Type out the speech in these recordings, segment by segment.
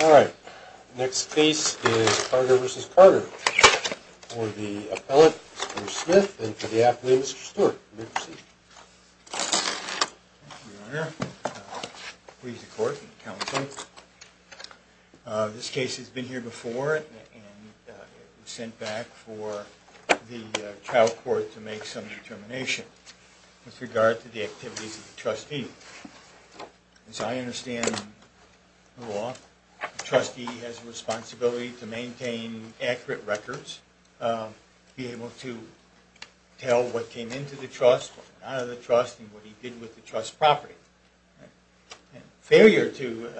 All right, next case is Carter v. Carter for the appellate Bruce Smith and for the appellate Mr. Stewart, you may proceed. Thank you, Your Honor. Please, the court and counsel. This case has been here before and it was sent back for the trial court to make some determination with regard to the activities of the trustee. As I understand the law, the trustee has a responsibility to maintain accurate records, be able to tell what came into the trust, what came out of the trust, and what he did with the trust property. Failure to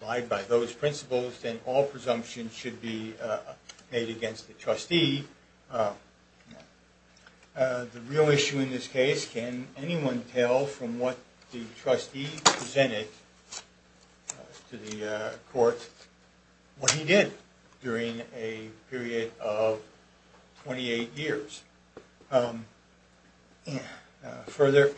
abide by those principles and all presumptions should be made against the trustee. The real issue in this case, can anyone tell from what the trustee presented to the court what he did during a period of 28 years? Further,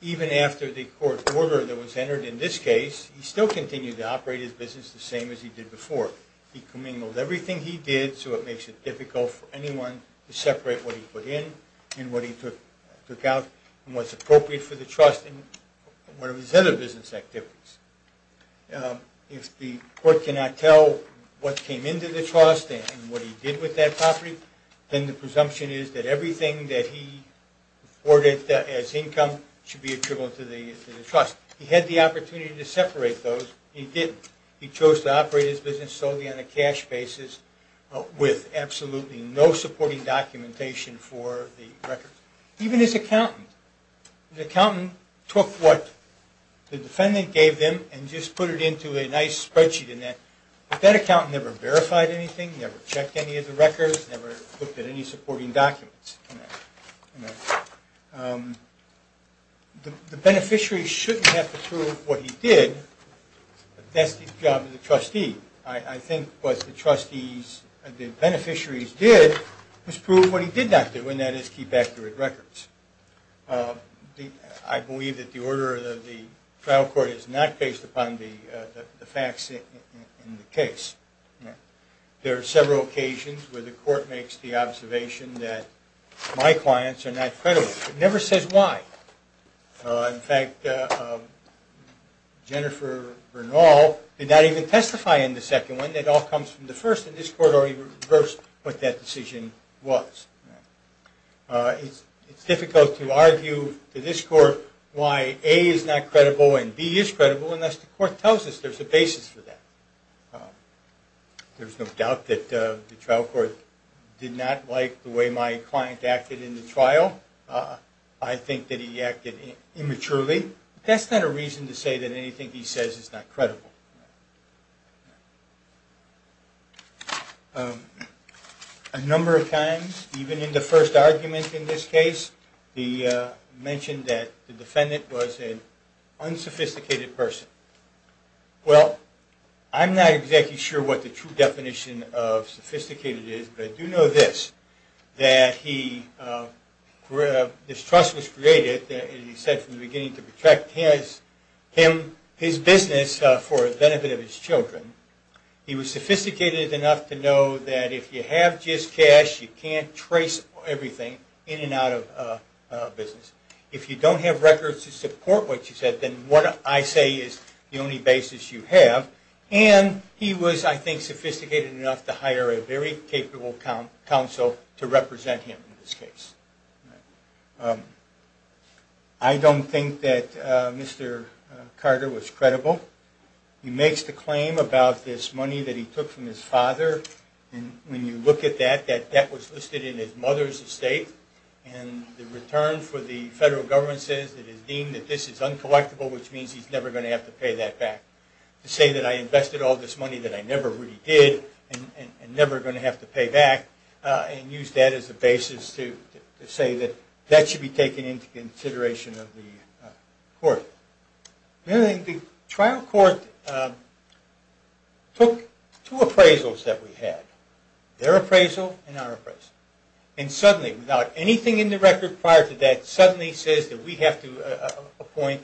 even after the court's order that was entered in this case, he still continued to operate his business the same as he did before. He commingled everything he did, so it makes it difficult for anyone to separate what he put in and what he took out and what's appropriate for the trust and one of his other business activities. If the court cannot tell what came into the trust and what he did with that property, then the presumption is that everything that he reported as income should be attributable to the trust. He had the opportunity to separate those, he didn't. He chose to operate his business solely on a cash basis with absolutely no supporting documentation for the records. Even his accountant. The accountant took what the defendant gave him and just put it into a nice spreadsheet. But that accountant never verified anything, never checked any of the records, never looked at any supporting documents. The beneficiary shouldn't have to prove what he did, but that's the job of the trustee. I think what the beneficiaries did was prove what he did not do, and that is keep accurate records. I believe that the order of the trial court is not based upon the facts in the case. There are several occasions where the court makes the observation that my clients are not credible. It never says why. In fact, Jennifer Bernal did not even testify in the second one. It all comes from the first, and this court already reversed what that decision was. It's difficult to argue to this court why A is not credible and B is credible unless the court tells us there's a basis for that. There's no doubt that the trial court did not like the way my client acted in the trial. I think that he acted immaturely. That's not a reason to say that anything he says is not credible. A number of times, even in the first argument in this case, he mentioned that the defendant was an unsophisticated person. Well, I'm not exactly sure what the true definition of sophisticated is, but I do know this, that this trust was created, as he said from the beginning, to protect his business for the benefit of his children. He was sophisticated enough to know that if you have just cash, you can't trace everything in and out of business. If you don't have records to support what you said, then what I say is the only basis you have. And he was, I think, sophisticated enough to hire a very capable counsel to represent him in this case. I don't think that Mr. Carter was credible. He makes the claim about this money that he took from his father. When you look at that, that debt was listed in his mother's estate, and the return for the federal government says it is deemed that this is uncollectible, which means he's never going to have to pay that back. To say that I invested all this money that I never really did, and never going to have to pay back, and use that as a basis to say that that should be taken into consideration of the court. The trial court took two appraisals that we had, their appraisal and our appraisal. And suddenly, without anything in the record prior to that, suddenly says that we have to appoint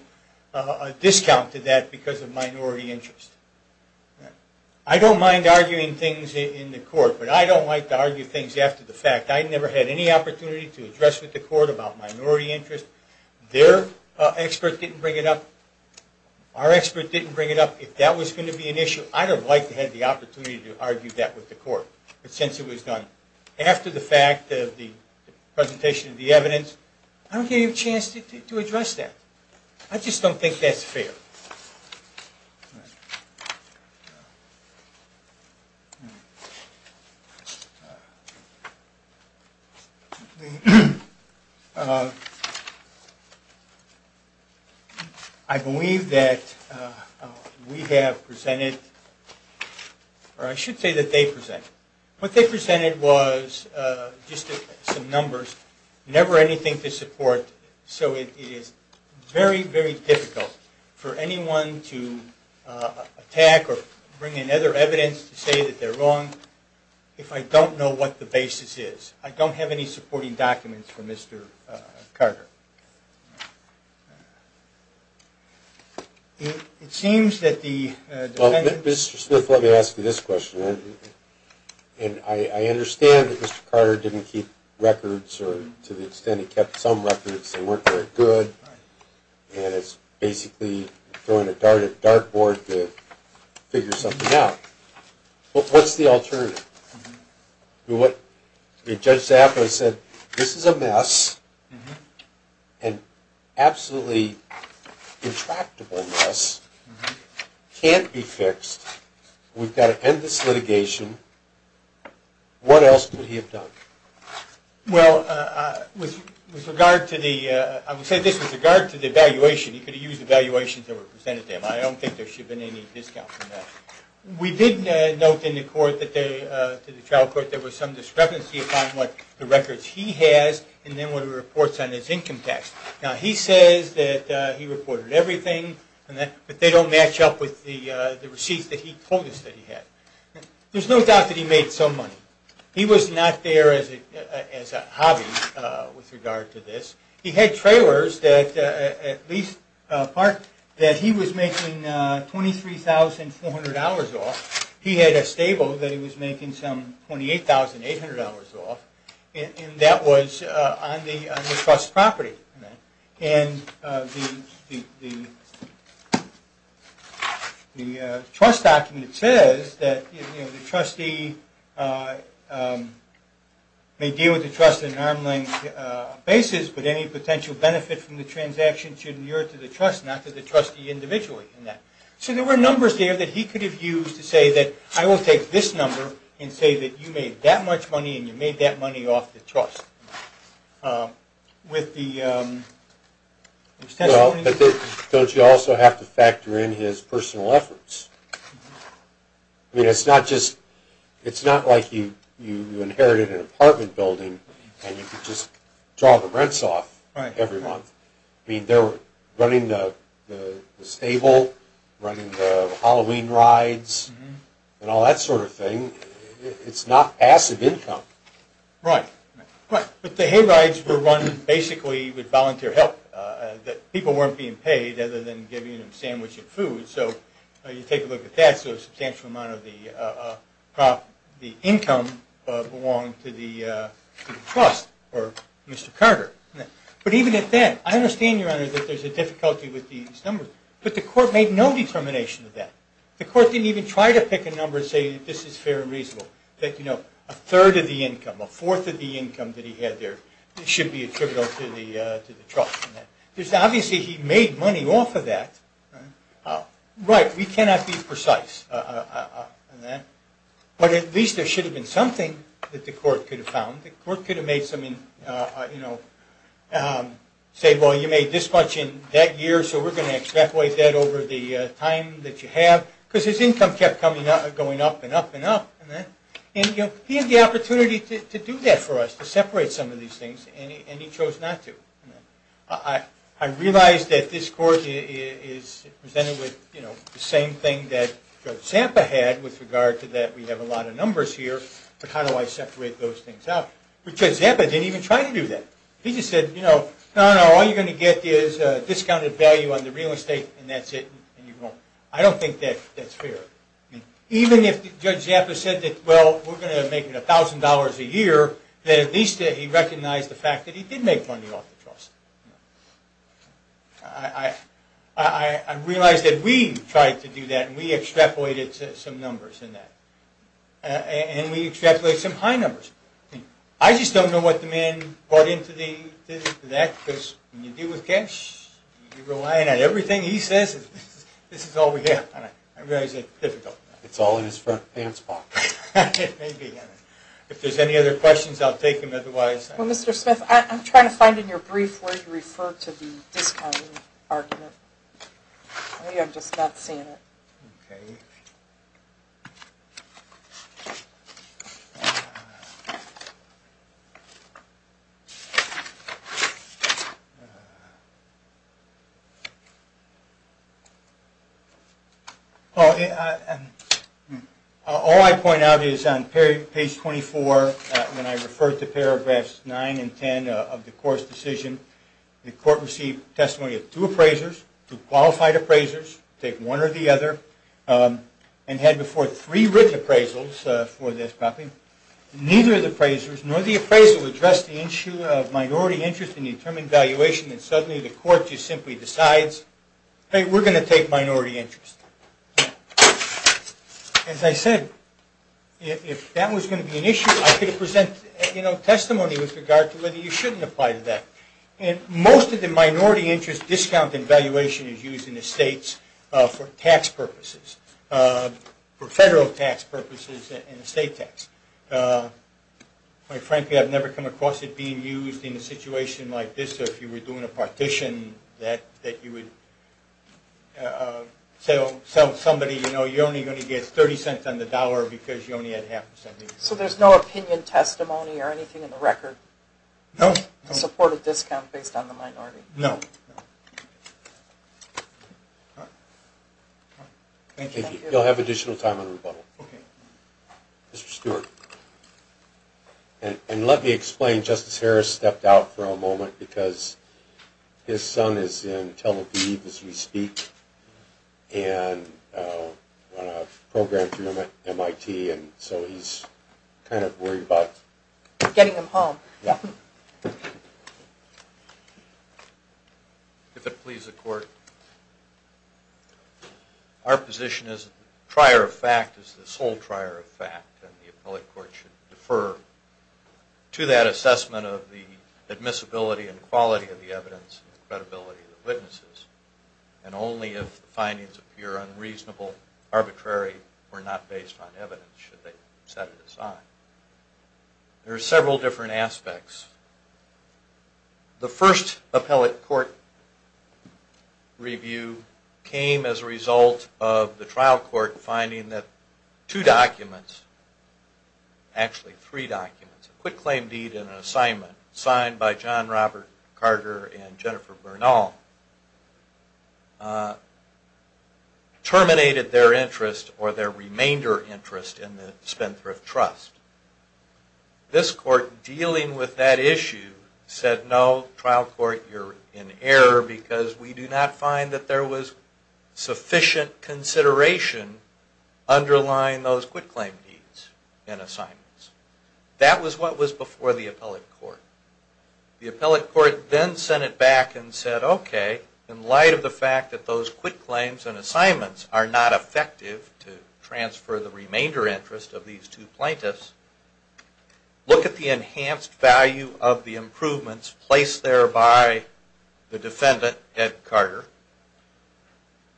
a discount to that because of minority interest. I don't mind arguing things in the court, but I don't like to argue things after the fact. I never had any opportunity to address with the court about minority interest. Their expert didn't bring it up. Our expert didn't bring it up. If that was going to be an issue, I would have liked to have had the opportunity to argue that with the court, but since it was done after the fact of the presentation of the evidence, I don't have any chance to address that. I just don't think that's fair. I believe that we have presented, or I should say that they presented. What they presented was just some numbers, never anything to support. So it is very, very difficult for anyone to attack or bring in other evidence to say that they're wrong if I don't know what the basis is. I don't have any supporting documents for Mr. Carter. It seems that the defense... Well, Mr. Smith, let me ask you this question. I understand that Mr. Carter didn't keep records, or to the extent he kept some records, they weren't very good, and it's basically throwing a dartboard to figure something out. What's the alternative? If Judge Zappa said, this is a mess, an absolutely intractable mess, can't be fixed, we've got to end this litigation, what else could he have done? Well, with regard to the evaluation, he could have used evaluations that were presented to him. I don't think there should have been any discounts on that. We did note in the trial court that there was some discrepancy upon the records he has and then what he reports on his income tax. Now, he says that he reported everything, but they don't match up with the receipts that he told us that he had. There's no doubt that he made some money. He was not there as a hobby with regard to this. He had trailers that he was making $23,400 off. He had a stable that he was making some $28,800 off, and that was on the trust property. And the trust document says that the trustee may deal with the trust at an arm's length basis, but any potential benefit from the transaction should adhere to the trust, not to the trustee individually. So there were numbers there that he could have used to say that I will take this number and say that you made that much money and you made that money off the trust. With the extension? Well, but don't you also have to factor in his personal efforts? I mean, it's not like you inherited an apartment building and you could just draw the rents off every month. I mean, they're running the stable, running the Halloween rides, and all that sort of thing. It's not passive income. Right. But the hay rides were run basically with volunteer help, that people weren't being paid other than giving them a sandwich and food. So you take a look at that, so a substantial amount of the income belonged to the trust or Mr. Carter. But even at that, I understand, Your Honor, that there's a difficulty with these numbers, but the court made no determination of that. The court didn't even try to pick a number and say this is fair and reasonable, that a third of the income, a fourth of the income that he had there should be attributable to the trust. Because obviously he made money off of that. Right. We cannot be precise on that. But at least there should have been something that the court could have found. The court could have made some, say, well, you made this much in that year, so we're going to extrapolate that over the time that you have. Because his income kept going up and up and up. And he had the opportunity to do that for us, to separate some of these things, and he chose not to. I realize that this court is presented with the same thing that Judge Zampa had with regard to that, we have a lot of numbers here, but how do I separate those things out? But Judge Zampa didn't even try to do that. He just said, you know, no, no, all you're going to get is a discounted value on the real estate and that's it. I don't think that's fair. Even if Judge Zampa said that, well, we're going to make $1,000 a year, that at least he recognized the fact that he did make money off the trust. I realize that we tried to do that, and we extrapolated some numbers in that. And we extrapolated some high numbers. I just don't know what the man brought into that, because when you deal with cash, you're relying on everything he says, and this is all we have. I realize it's difficult. It's all in his front pants pocket. It may be. If there's any other questions, I'll take them. Well, Mr. Smith, I'm trying to find in your brief where you refer to the discounting argument. Maybe I'm just not seeing it. Okay. All I point out is on page 24, when I refer to paragraphs 9 and 10 of the court's decision, the court received testimony of two appraisers, two qualified appraisers, take one or the other, and had before three written appraisals for this copy. Neither of the appraisers, nor the appraisal, addressed the issue of minority interest in the determined valuation, and the court just simply decides, hey, we're going to take minority interest. As I said, if that was going to be an issue, I could present testimony with regard to whether you shouldn't apply to that. Most of the minority interest discount in valuation is used in the states for tax purposes, for federal tax purposes and the state tax. Quite frankly, I've never come across it being used in a situation like this, if you were doing a partition that you would sell somebody, you're only going to get 30 cents on the dollar because you only had half a cent. So there's no opinion testimony or anything in the record? No. To support a discount based on the minority? No. Thank you. You'll have additional time on rebuttal. Okay. Mr. Stewart. And let me explain, Justice Harris stepped out for a moment because his son is in Tel Aviv as we speak, and I want to program through him at MIT, and so he's kind of worried about getting him home. Yeah. If it please the court, our position is the trier of fact is the sole trier of fact, and the appellate court should defer to that assessment of the admissibility and quality of the evidence and the credibility of the witnesses, and only if the findings appear unreasonable, arbitrary, or not based on evidence should they set it aside. There are several different aspects. The first appellate court review came as a result of the trial court finding that two documents, actually three documents, a quit claim deed and an assignment signed by John Robert Carter and Jennifer Bernal terminated their interest or their remainder interest in the Spendthrift Trust. This court, dealing with that issue, said no, trial court, you're in error because we do not find that there was sufficient consideration underlying those quit claim deeds and assignments. That was what was before the appellate court. The appellate court then sent it back and said, okay, in light of the fact that those quit claims and assignments are not effective to transfer the remainder interest of these two plaintiffs, look at the enhanced value of the improvements placed there by the defendant, Ed Carter,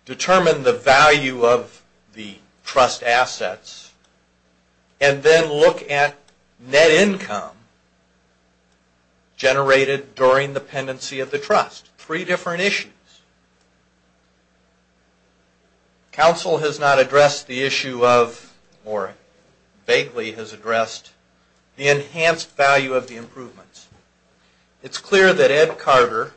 determine the value of the trust assets, and then look at net income generated during the pendency of the trust. Three different issues. Counsel has not addressed the issue of, or vaguely has addressed, the enhanced value of the improvements. It's clear that Ed Carter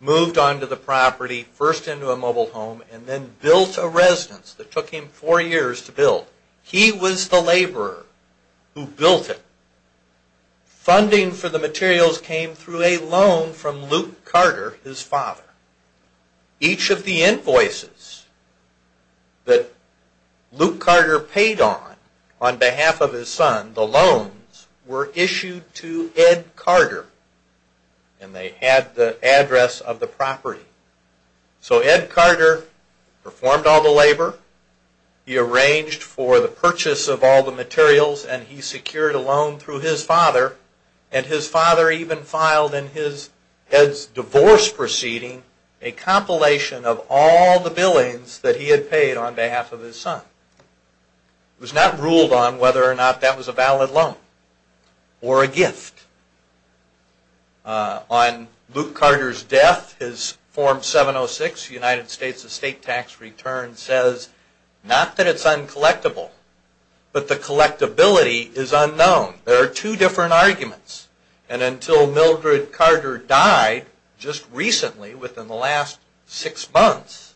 moved onto the property, first into a mobile home, and then built a residence that took him four years to build. He was the laborer who built it. Funding for the materials came through a loan from Luke Carter, his father. Each of the invoices that Luke Carter paid on, on behalf of his son, the loans were issued to Ed Carter, and they had the address of the property. So Ed Carter performed all the labor. He arranged for the purchase of all the materials, and he secured a loan through his father, and his father even filed in Ed's divorce proceeding a compilation of all the billings that he had paid on behalf of his son. It was not ruled on whether or not that was a valid loan or a gift. On Luke Carter's death, his Form 706, United States Estate Tax Return, says not that it's uncollectible, but the collectability is unknown. There are two different arguments. And until Mildred Carter died just recently, within the last six months,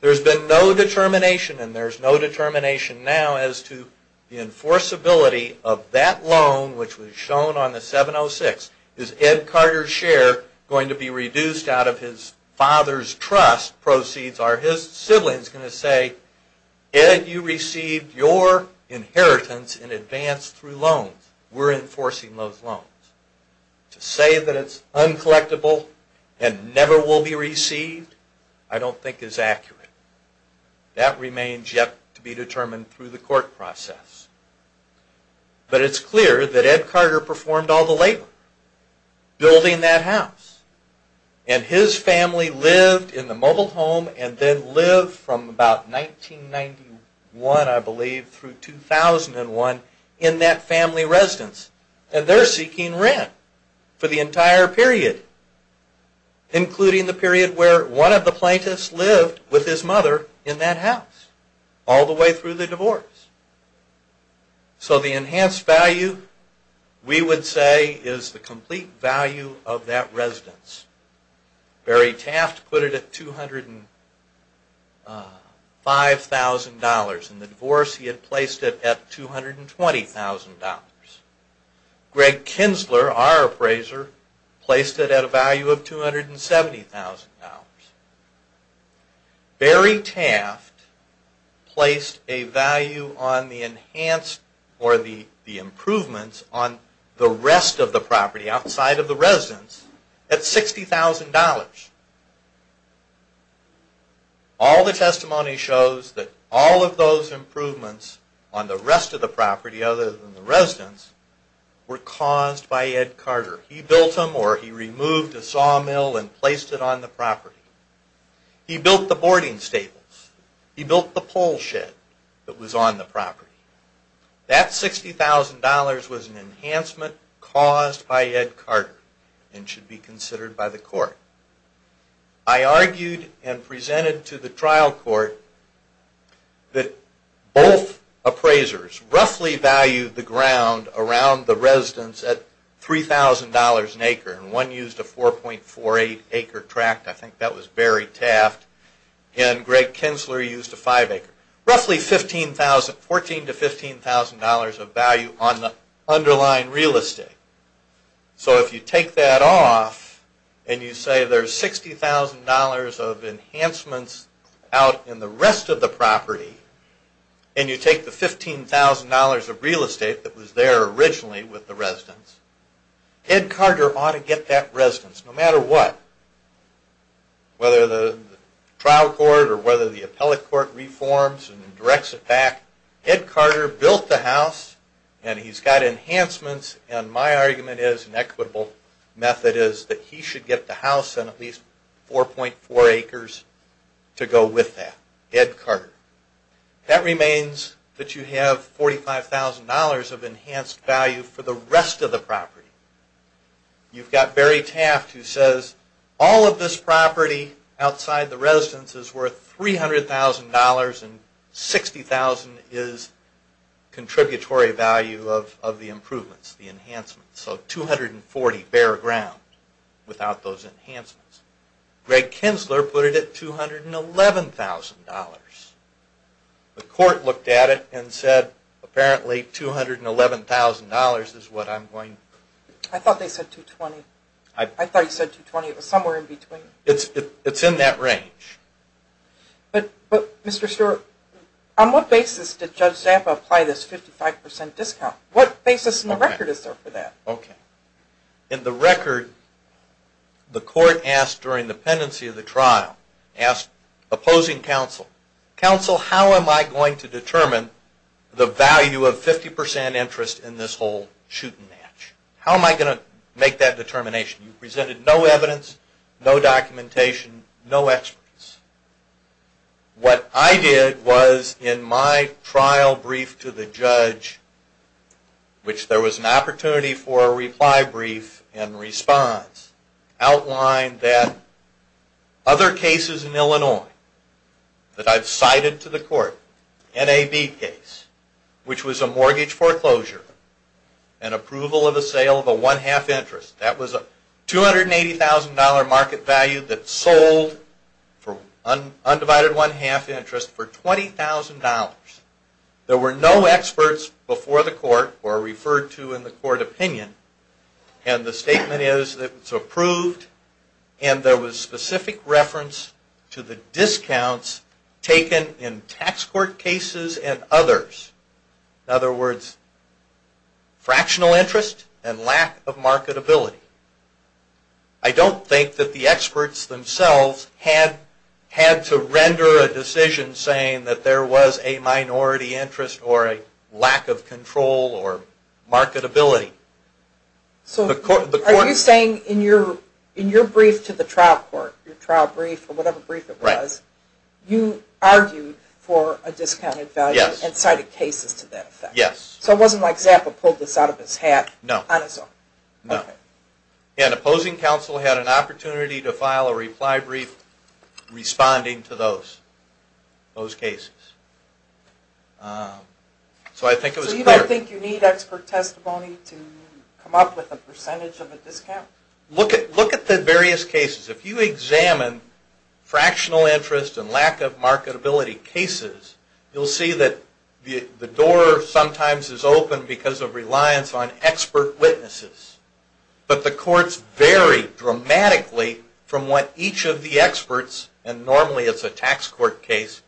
there's been no determination, and there's no determination now as to the enforceability of that loan, which was shown on the 706. Is Ed Carter's share going to be reduced out of his father's trust proceeds? Are his siblings going to say, Ed, you received your inheritance in advance through loans. We're enforcing those loans. To say that it's uncollectable and never will be received, I don't think is accurate. That remains yet to be determined through the court process. But it's clear that Ed Carter performed all the labor building that house, and his family lived in the mobile home and then lived from about 1991, I believe, through 2001 in that family residence. And they're seeking rent for the entire period, including the period where one of the plaintiffs lived with his mother in that house, all the way through the divorce. So the enhanced value, we would say, is the complete value of that residence. Barry Taft put it at $205,000. In the divorce, he had placed it at $220,000. Greg Kinsler, our appraiser, placed it at a value of $270,000. Barry Taft placed a value on the enhanced or the improvements on the rest of the property, outside of the residence, at $60,000. All the testimony shows that all of those improvements on the rest of the property, other than the residence, were caused by Ed Carter. He built them or he removed a sawmill and placed it on the property. He built the boarding stables. He built the pole shed that was on the property. That $60,000 was an enhancement caused by Ed Carter and should be considered by the court. I argued and presented to the trial court that both appraisers roughly valued the ground around the residence at $3,000 an acre. One used a 4.48 acre tract. I think that was Barry Taft. And Greg Kinsler used a 5 acre. Roughly $14,000 to $15,000 of value on the underlying real estate. So if you take that off and you say there's $60,000 of enhancements out in the rest of the property and you take the $15,000 of real estate that was there originally with the residence, Ed Carter ought to get that residence no matter what. Whether the trial court or whether the appellate court reforms and directs it back, Ed Carter built the house and he's got enhancements and my argument is, an equitable method is, that he should get the house and at least 4.4 acres to go with that. That remains that you have $45,000 of enhanced value for the rest of the property. You've got Barry Taft who says all of this property outside the residence is worth $300,000 and $60,000 is contributory value of the improvements, the enhancements. So $240,000 bare ground without those enhancements. Greg Kinsler put it at $211,000. The court looked at it and said apparently $211,000 is what I'm going... I thought they said $220,000. I thought you said $220,000. It was somewhere in between. It's in that range. But Mr. Stewart, on what basis did Judge Zappa apply this 55% discount? What basis in the record is there for that? In the record, the court asked during the pendency of the trial, opposing counsel, Counsel, how am I going to determine the value of 50% interest in this whole shoot and match? How am I going to make that determination? You presented no evidence, no documentation, no experts. which there was an opportunity for a reply brief and response outlined that other cases in Illinois that I've cited to the court, NAB case, which was a mortgage foreclosure and approval of a sale of a one-half interest. That was a $280,000 market value that sold for undivided one-half interest for $20,000. There were no experts before the court or referred to in the court opinion, and the statement is that it's approved, and there was specific reference to the discounts taken in tax court cases and others. In other words, fractional interest and lack of marketability. I don't think that the experts themselves had to render a decision saying that there was a minority interest or a lack of control or marketability. Are you saying in your brief to the trial court, your trial brief or whatever brief it was, you argued for a discounted value and cited cases to that effect? Yes. So it wasn't like Zappa pulled this out of his hat on his own? No. An opposing counsel had an opportunity to file a reply brief responding to those cases. So you don't think you need expert testimony to come up with a percentage of a discount? Look at the various cases. If you examine fractional interest and lack of marketability cases, you'll see that the door sometimes is open because of reliance on expert witnesses. But the courts vary dramatically from what each of the experts, and normally it's a tax court case,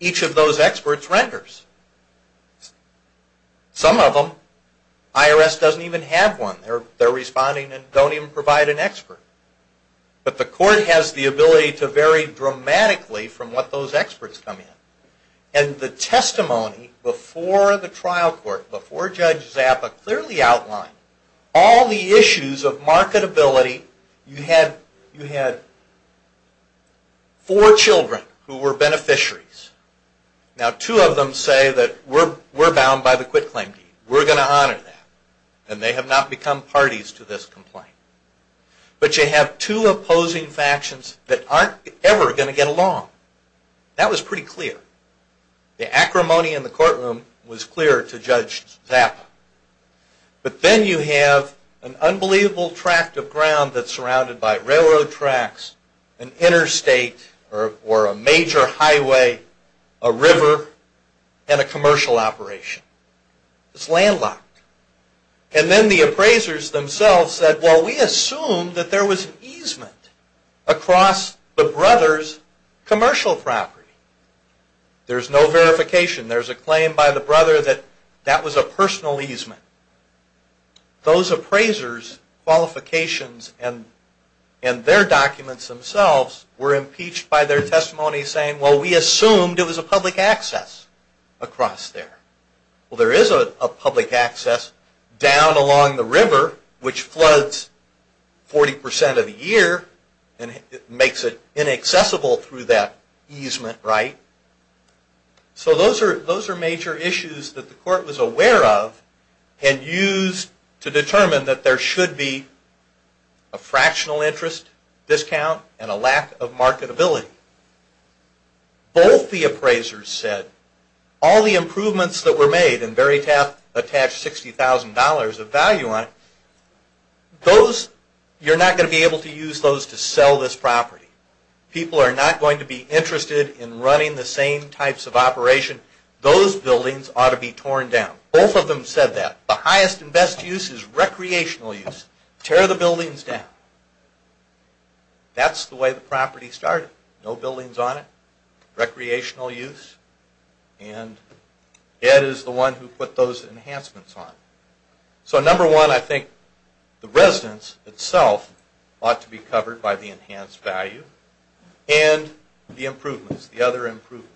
each of those experts renders. Some of them, IRS doesn't even have one. They're responding and don't even provide an expert. But the court has the ability to vary dramatically from what those experts come in. And the testimony before the trial court, before Judge Zappa, clearly outlined all the issues of marketability. You had four children who were beneficiaries. Now two of them say that we're bound by the quit claim deed. We're going to honor that. And they have not become parties to this complaint. But you have two opposing factions that aren't ever going to get along. That was pretty clear. The acrimony in the courtroom was clear to Judge Zappa. But then you have an unbelievable tract of ground that's surrounded by railroad tracks, an interstate or a major highway, a river, and a commercial operation. It's landlocked. And then the appraisers themselves said, well, we assumed that there was an easement across the brothers' commercial property. There's no verification. There's a claim by the brother that that was a personal easement. Those appraisers' qualifications and their documents themselves were impeached by their testimony saying, well, we assumed it was a public access across there. Well, there is a public access down along the river, which floods 40 percent of the year and makes it inaccessible through that easement, right? So those are major issues that the court was aware of and used to determine that there should be a fractional interest discount and a lack of marketability. Both the appraisers said all the improvements that were made and very attached $60,000 of value on it, you're not going to be able to use those to sell this property. People are not going to be interested in running the same types of operation. Those buildings ought to be torn down. Both of them said that. The highest and best use is recreational use. Tear the buildings down. That's the way the property started. No buildings on it. Recreational use. And Ed is the one who put those enhancements on. So number one, I think the residence itself ought to be covered by the enhanced value and the improvements, the other improvements.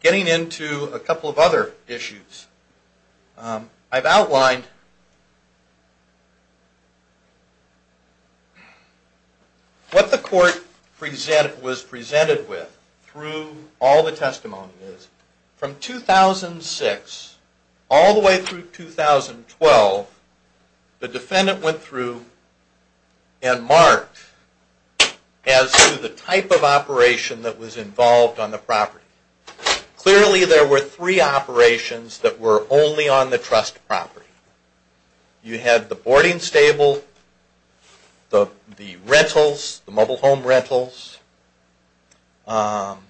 Getting into a couple of other issues, I've outlined what the court was presented with through all the testimonies. From 2006 all the way through 2012, the defendant went through and marked as to the type of operation that was involved on the property. Clearly there were three operations that were only on the trust property. You had the boarding stable, the rentals, the mobile home rentals, and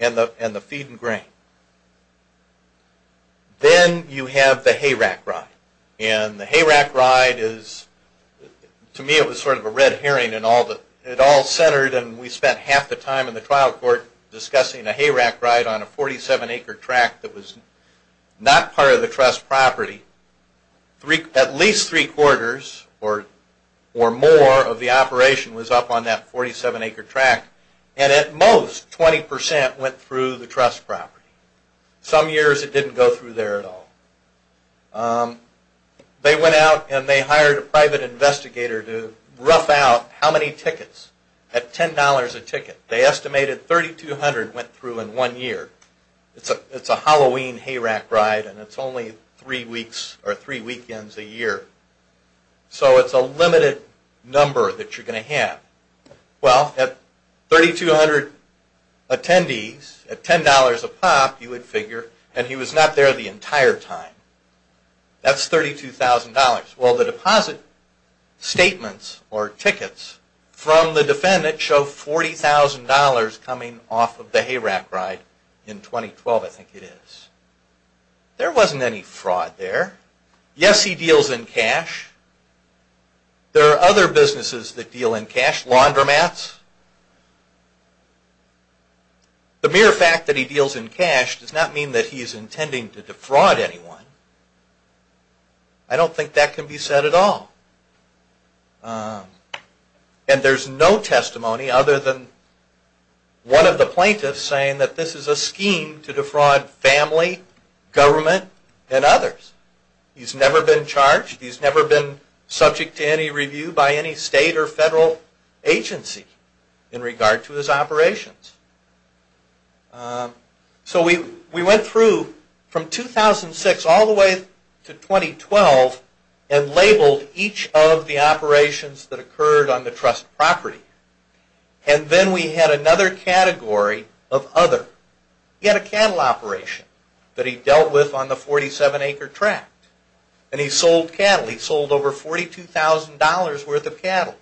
the feed and grain. Then you have the hay rack ride. The hay rack ride is, to me it was sort of a red herring. It all centered and we spent half the time in the trial court discussing a hay rack ride on a 47-acre tract that was not part of the trust property. At least three-quarters or more of the operation was up on that 47-acre tract and at most 20% went through the trust property. Some years it didn't go through there at all. They went out and they hired a private investigator to rough out how many tickets at $10 a ticket. They estimated 3,200 went through in one year. It's a Halloween hay rack ride and it's only three weekends a year. So it's a limited number that you're going to have. Well, at 3,200 attendees at $10 a pop you would figure, and he was not there the entire time, that's $32,000. Well, the deposit statements or tickets from the defendant show $40,000 coming off of the hay rack ride in 2012, I think it is. There wasn't any fraud there. Yes, he deals in cash. There are other businesses that deal in cash, laundromats. The mere fact that he deals in cash does not mean that he is intending to defraud anyone. I don't think that can be said at all. And there's no testimony other than one of the plaintiffs saying that this is a scheme to defraud family, government, and others. He's never been charged. He's never been subject to any review by any state or federal agency in regard to his operations. So we went through from 2006 all the way to 2012 and labeled each of the operations that occurred on the trust property. And then we had another category of other. He had a cattle operation that he dealt with on the 47-acre tract, and he sold cattle. He sold over $42,000 worth of cattle.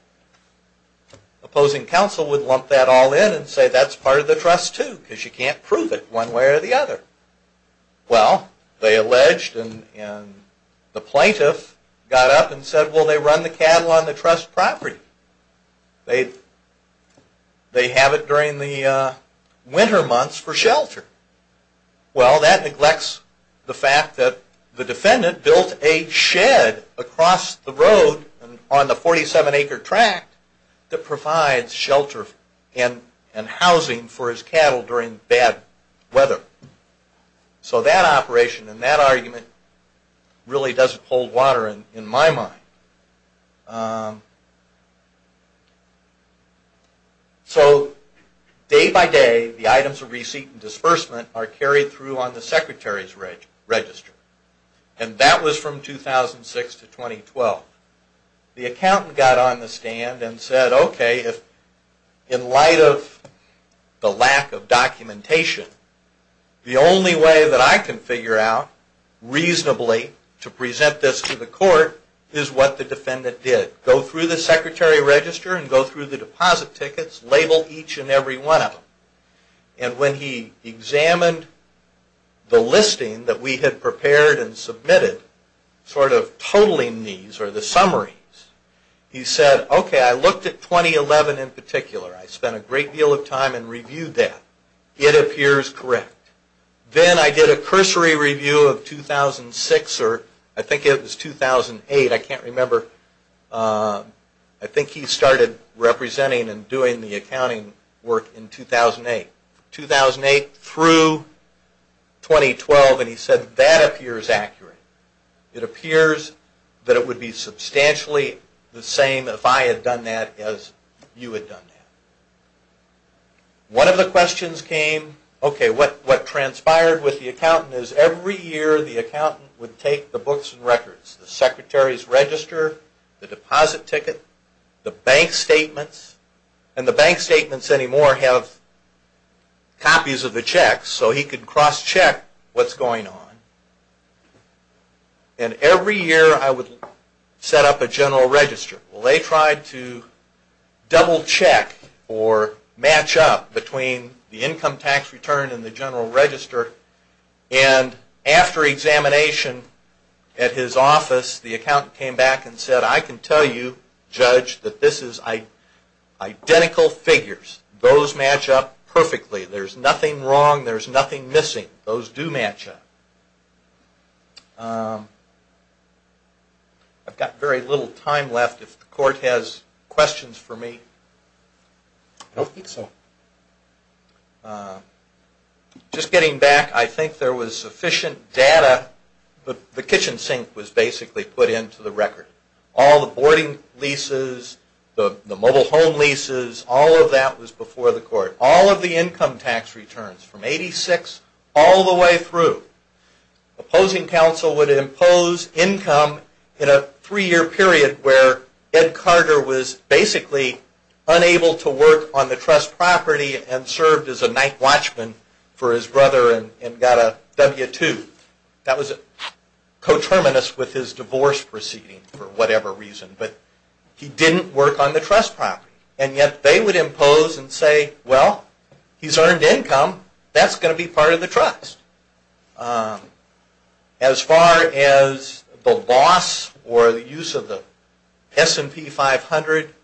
Opposing counsel would lump that all in and say that's part of the trust too because you can't prove it one way or the other. Well, they alleged and the plaintiff got up and said, well, they run the cattle on the trust property. They have it during the winter months for shelter. Well, that neglects the fact that the defendant built a shed across the road on the 47-acre tract that provides shelter and housing for his cattle during bad weather. So that operation and that argument really doesn't hold water in my mind. So day by day, the items of receipt and disbursement are carried through on the secretary's register. And that was from 2006 to 2012. The accountant got on the stand and said, okay, in light of the lack of documentation, the only way that I can figure out reasonably to present this to the court is what the defendant did. Go through the secretary register and go through the deposit tickets, label each and every one of them. And when he examined the listing that we had prepared and submitted, sort of totaling these or the summaries, he said, okay, I looked at 2011 in particular. I spent a great deal of time and reviewed that. It appears correct. Then I did a cursory review of 2006 or I think it was 2008. I can't remember. I think he started representing and doing the accounting work in 2008. 2008 through 2012, and he said that appears accurate. It appears that it would be substantially the same if I had done that as you had done that. One of the questions came, okay, what transpired with the accountant is every year the accountant would take the books and records. The secretary's register, the deposit ticket, the bank statements, and the bank statements anymore have copies of the checks, so he could cross-check what's going on. And every year I would set up a general register. They tried to double-check or match up between the income tax return and the general register. And after examination at his office, the accountant came back and said, I can tell you, Judge, that this is identical figures. Those match up perfectly. There's nothing wrong. There's nothing missing. Those do match up. I've got very little time left. If the court has questions for me. I don't think so. Just getting back, I think there was sufficient data. The kitchen sink was basically put into the record. All the boarding leases, the mobile home leases, all of that was before the court. All of the income tax returns from 86 all the way through. Opposing counsel would impose income in a three-year period where Ed Carter was basically unable to work on the trust property and served as a night watchman for his brother and got a W-2. That was coterminous with his divorce proceeding for whatever reason. But he didn't work on the trust property. And yet they would impose and say, well, he's earned income. That's going to be part of the trust. As far as the loss or the use of the S&P 500,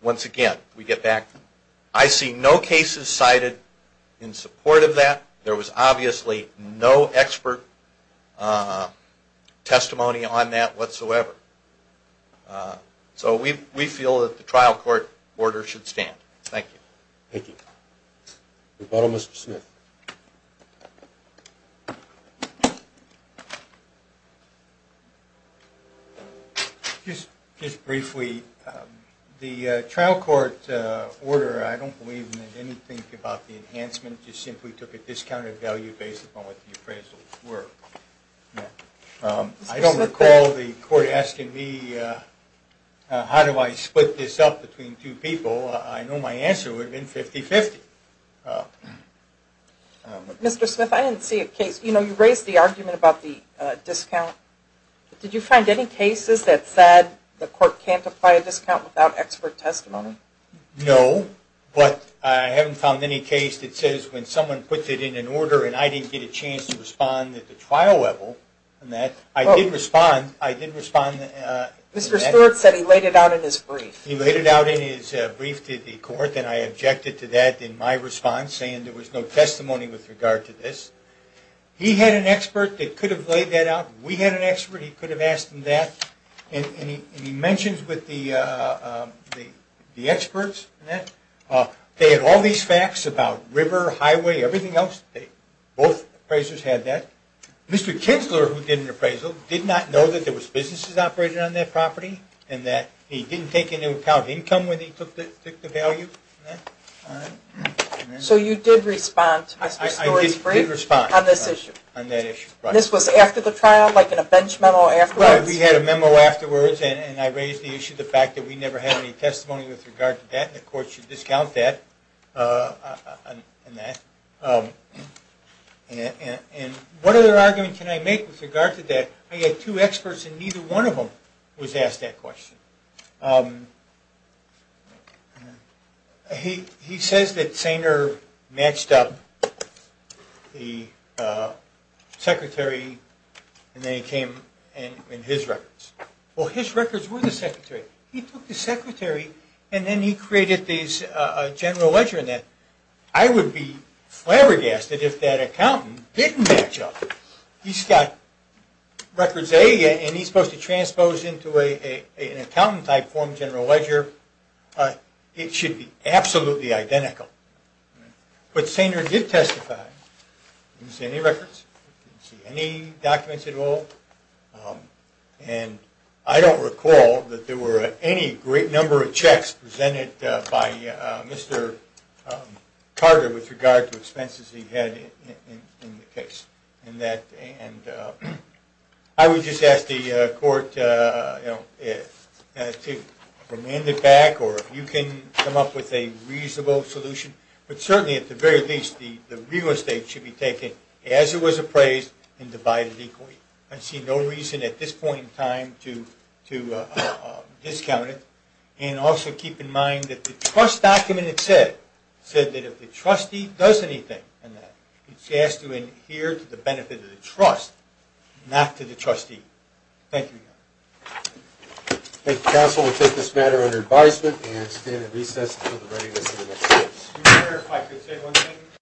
once again, we get back. I see no cases cited in support of that. There was obviously no expert testimony on that whatsoever. So we feel that the trial court order should stand. Thank you. Thank you. We'll follow Mr. Smith. Just briefly, the trial court order, I don't believe in anything about the enhancement. It just simply took a discounted value based upon what the appraisals were. I don't recall the court asking me how do I split this up between two people. I know my answer would have been 50-50. Mr. Smith, I didn't see a case. You know, you raised the argument about the discount. Did you find any cases that said the court can't apply a discount without expert testimony? No, but I haven't found any case that says when someone puts it in an order and I didn't get a chance to respond at the trial level. I did respond. Mr. Stewart said he laid it out in his brief. He laid it out in his brief to the court, and I objected to that in my response, saying there was no testimony with regard to this. He had an expert that could have laid that out. We had an expert. He could have asked him that. And he mentions with the experts that they had all these facts about river, highway, everything else. Both appraisers had that. Mr. Kinsler, who did an appraisal, did not know that there was businesses operated on that property and that he didn't take into account income when he took the value. So you did respond to Mr. Stewart's brief? I did respond. On this issue? On that issue. This was after the trial, like in a bench memo afterwards? We had a memo afterwards, and I raised the issue of the fact that we never had any testimony with regard to that, and the court should discount that. And what other argument can I make with regard to that? I had two experts, and neither one of them was asked that question. He says that Sainer matched up the secretary, and then it came in his records. Well, his records were the secretary. He took the secretary, and then he created this general ledger, and I would be flabbergasted if that accountant didn't match up. He's got records A, and he's supposed to transpose into an accountant-type form general ledger. It should be absolutely identical. But Sainer did testify. He didn't see any records. He didn't see any documents at all. And I don't recall that there were any great number of checks presented by Mr. Carter with regard to expenses he had in the case. And I would just ask the court to remand it back, or if you can come up with a reasonable solution. But certainly, at the very least, the real estate should be taken as it was appraised and divided equally. I see no reason at this point in time to discount it. And also keep in mind that the trust document itself said that if the trustee does anything in that, it's asked to adhere to the benefit of the trust, not to the trustee. Thank you. Thank you, counsel. We'll take this matter under advisement and stand at recess until the writing is in the next case. Excuse me, sir, if I could say one thing.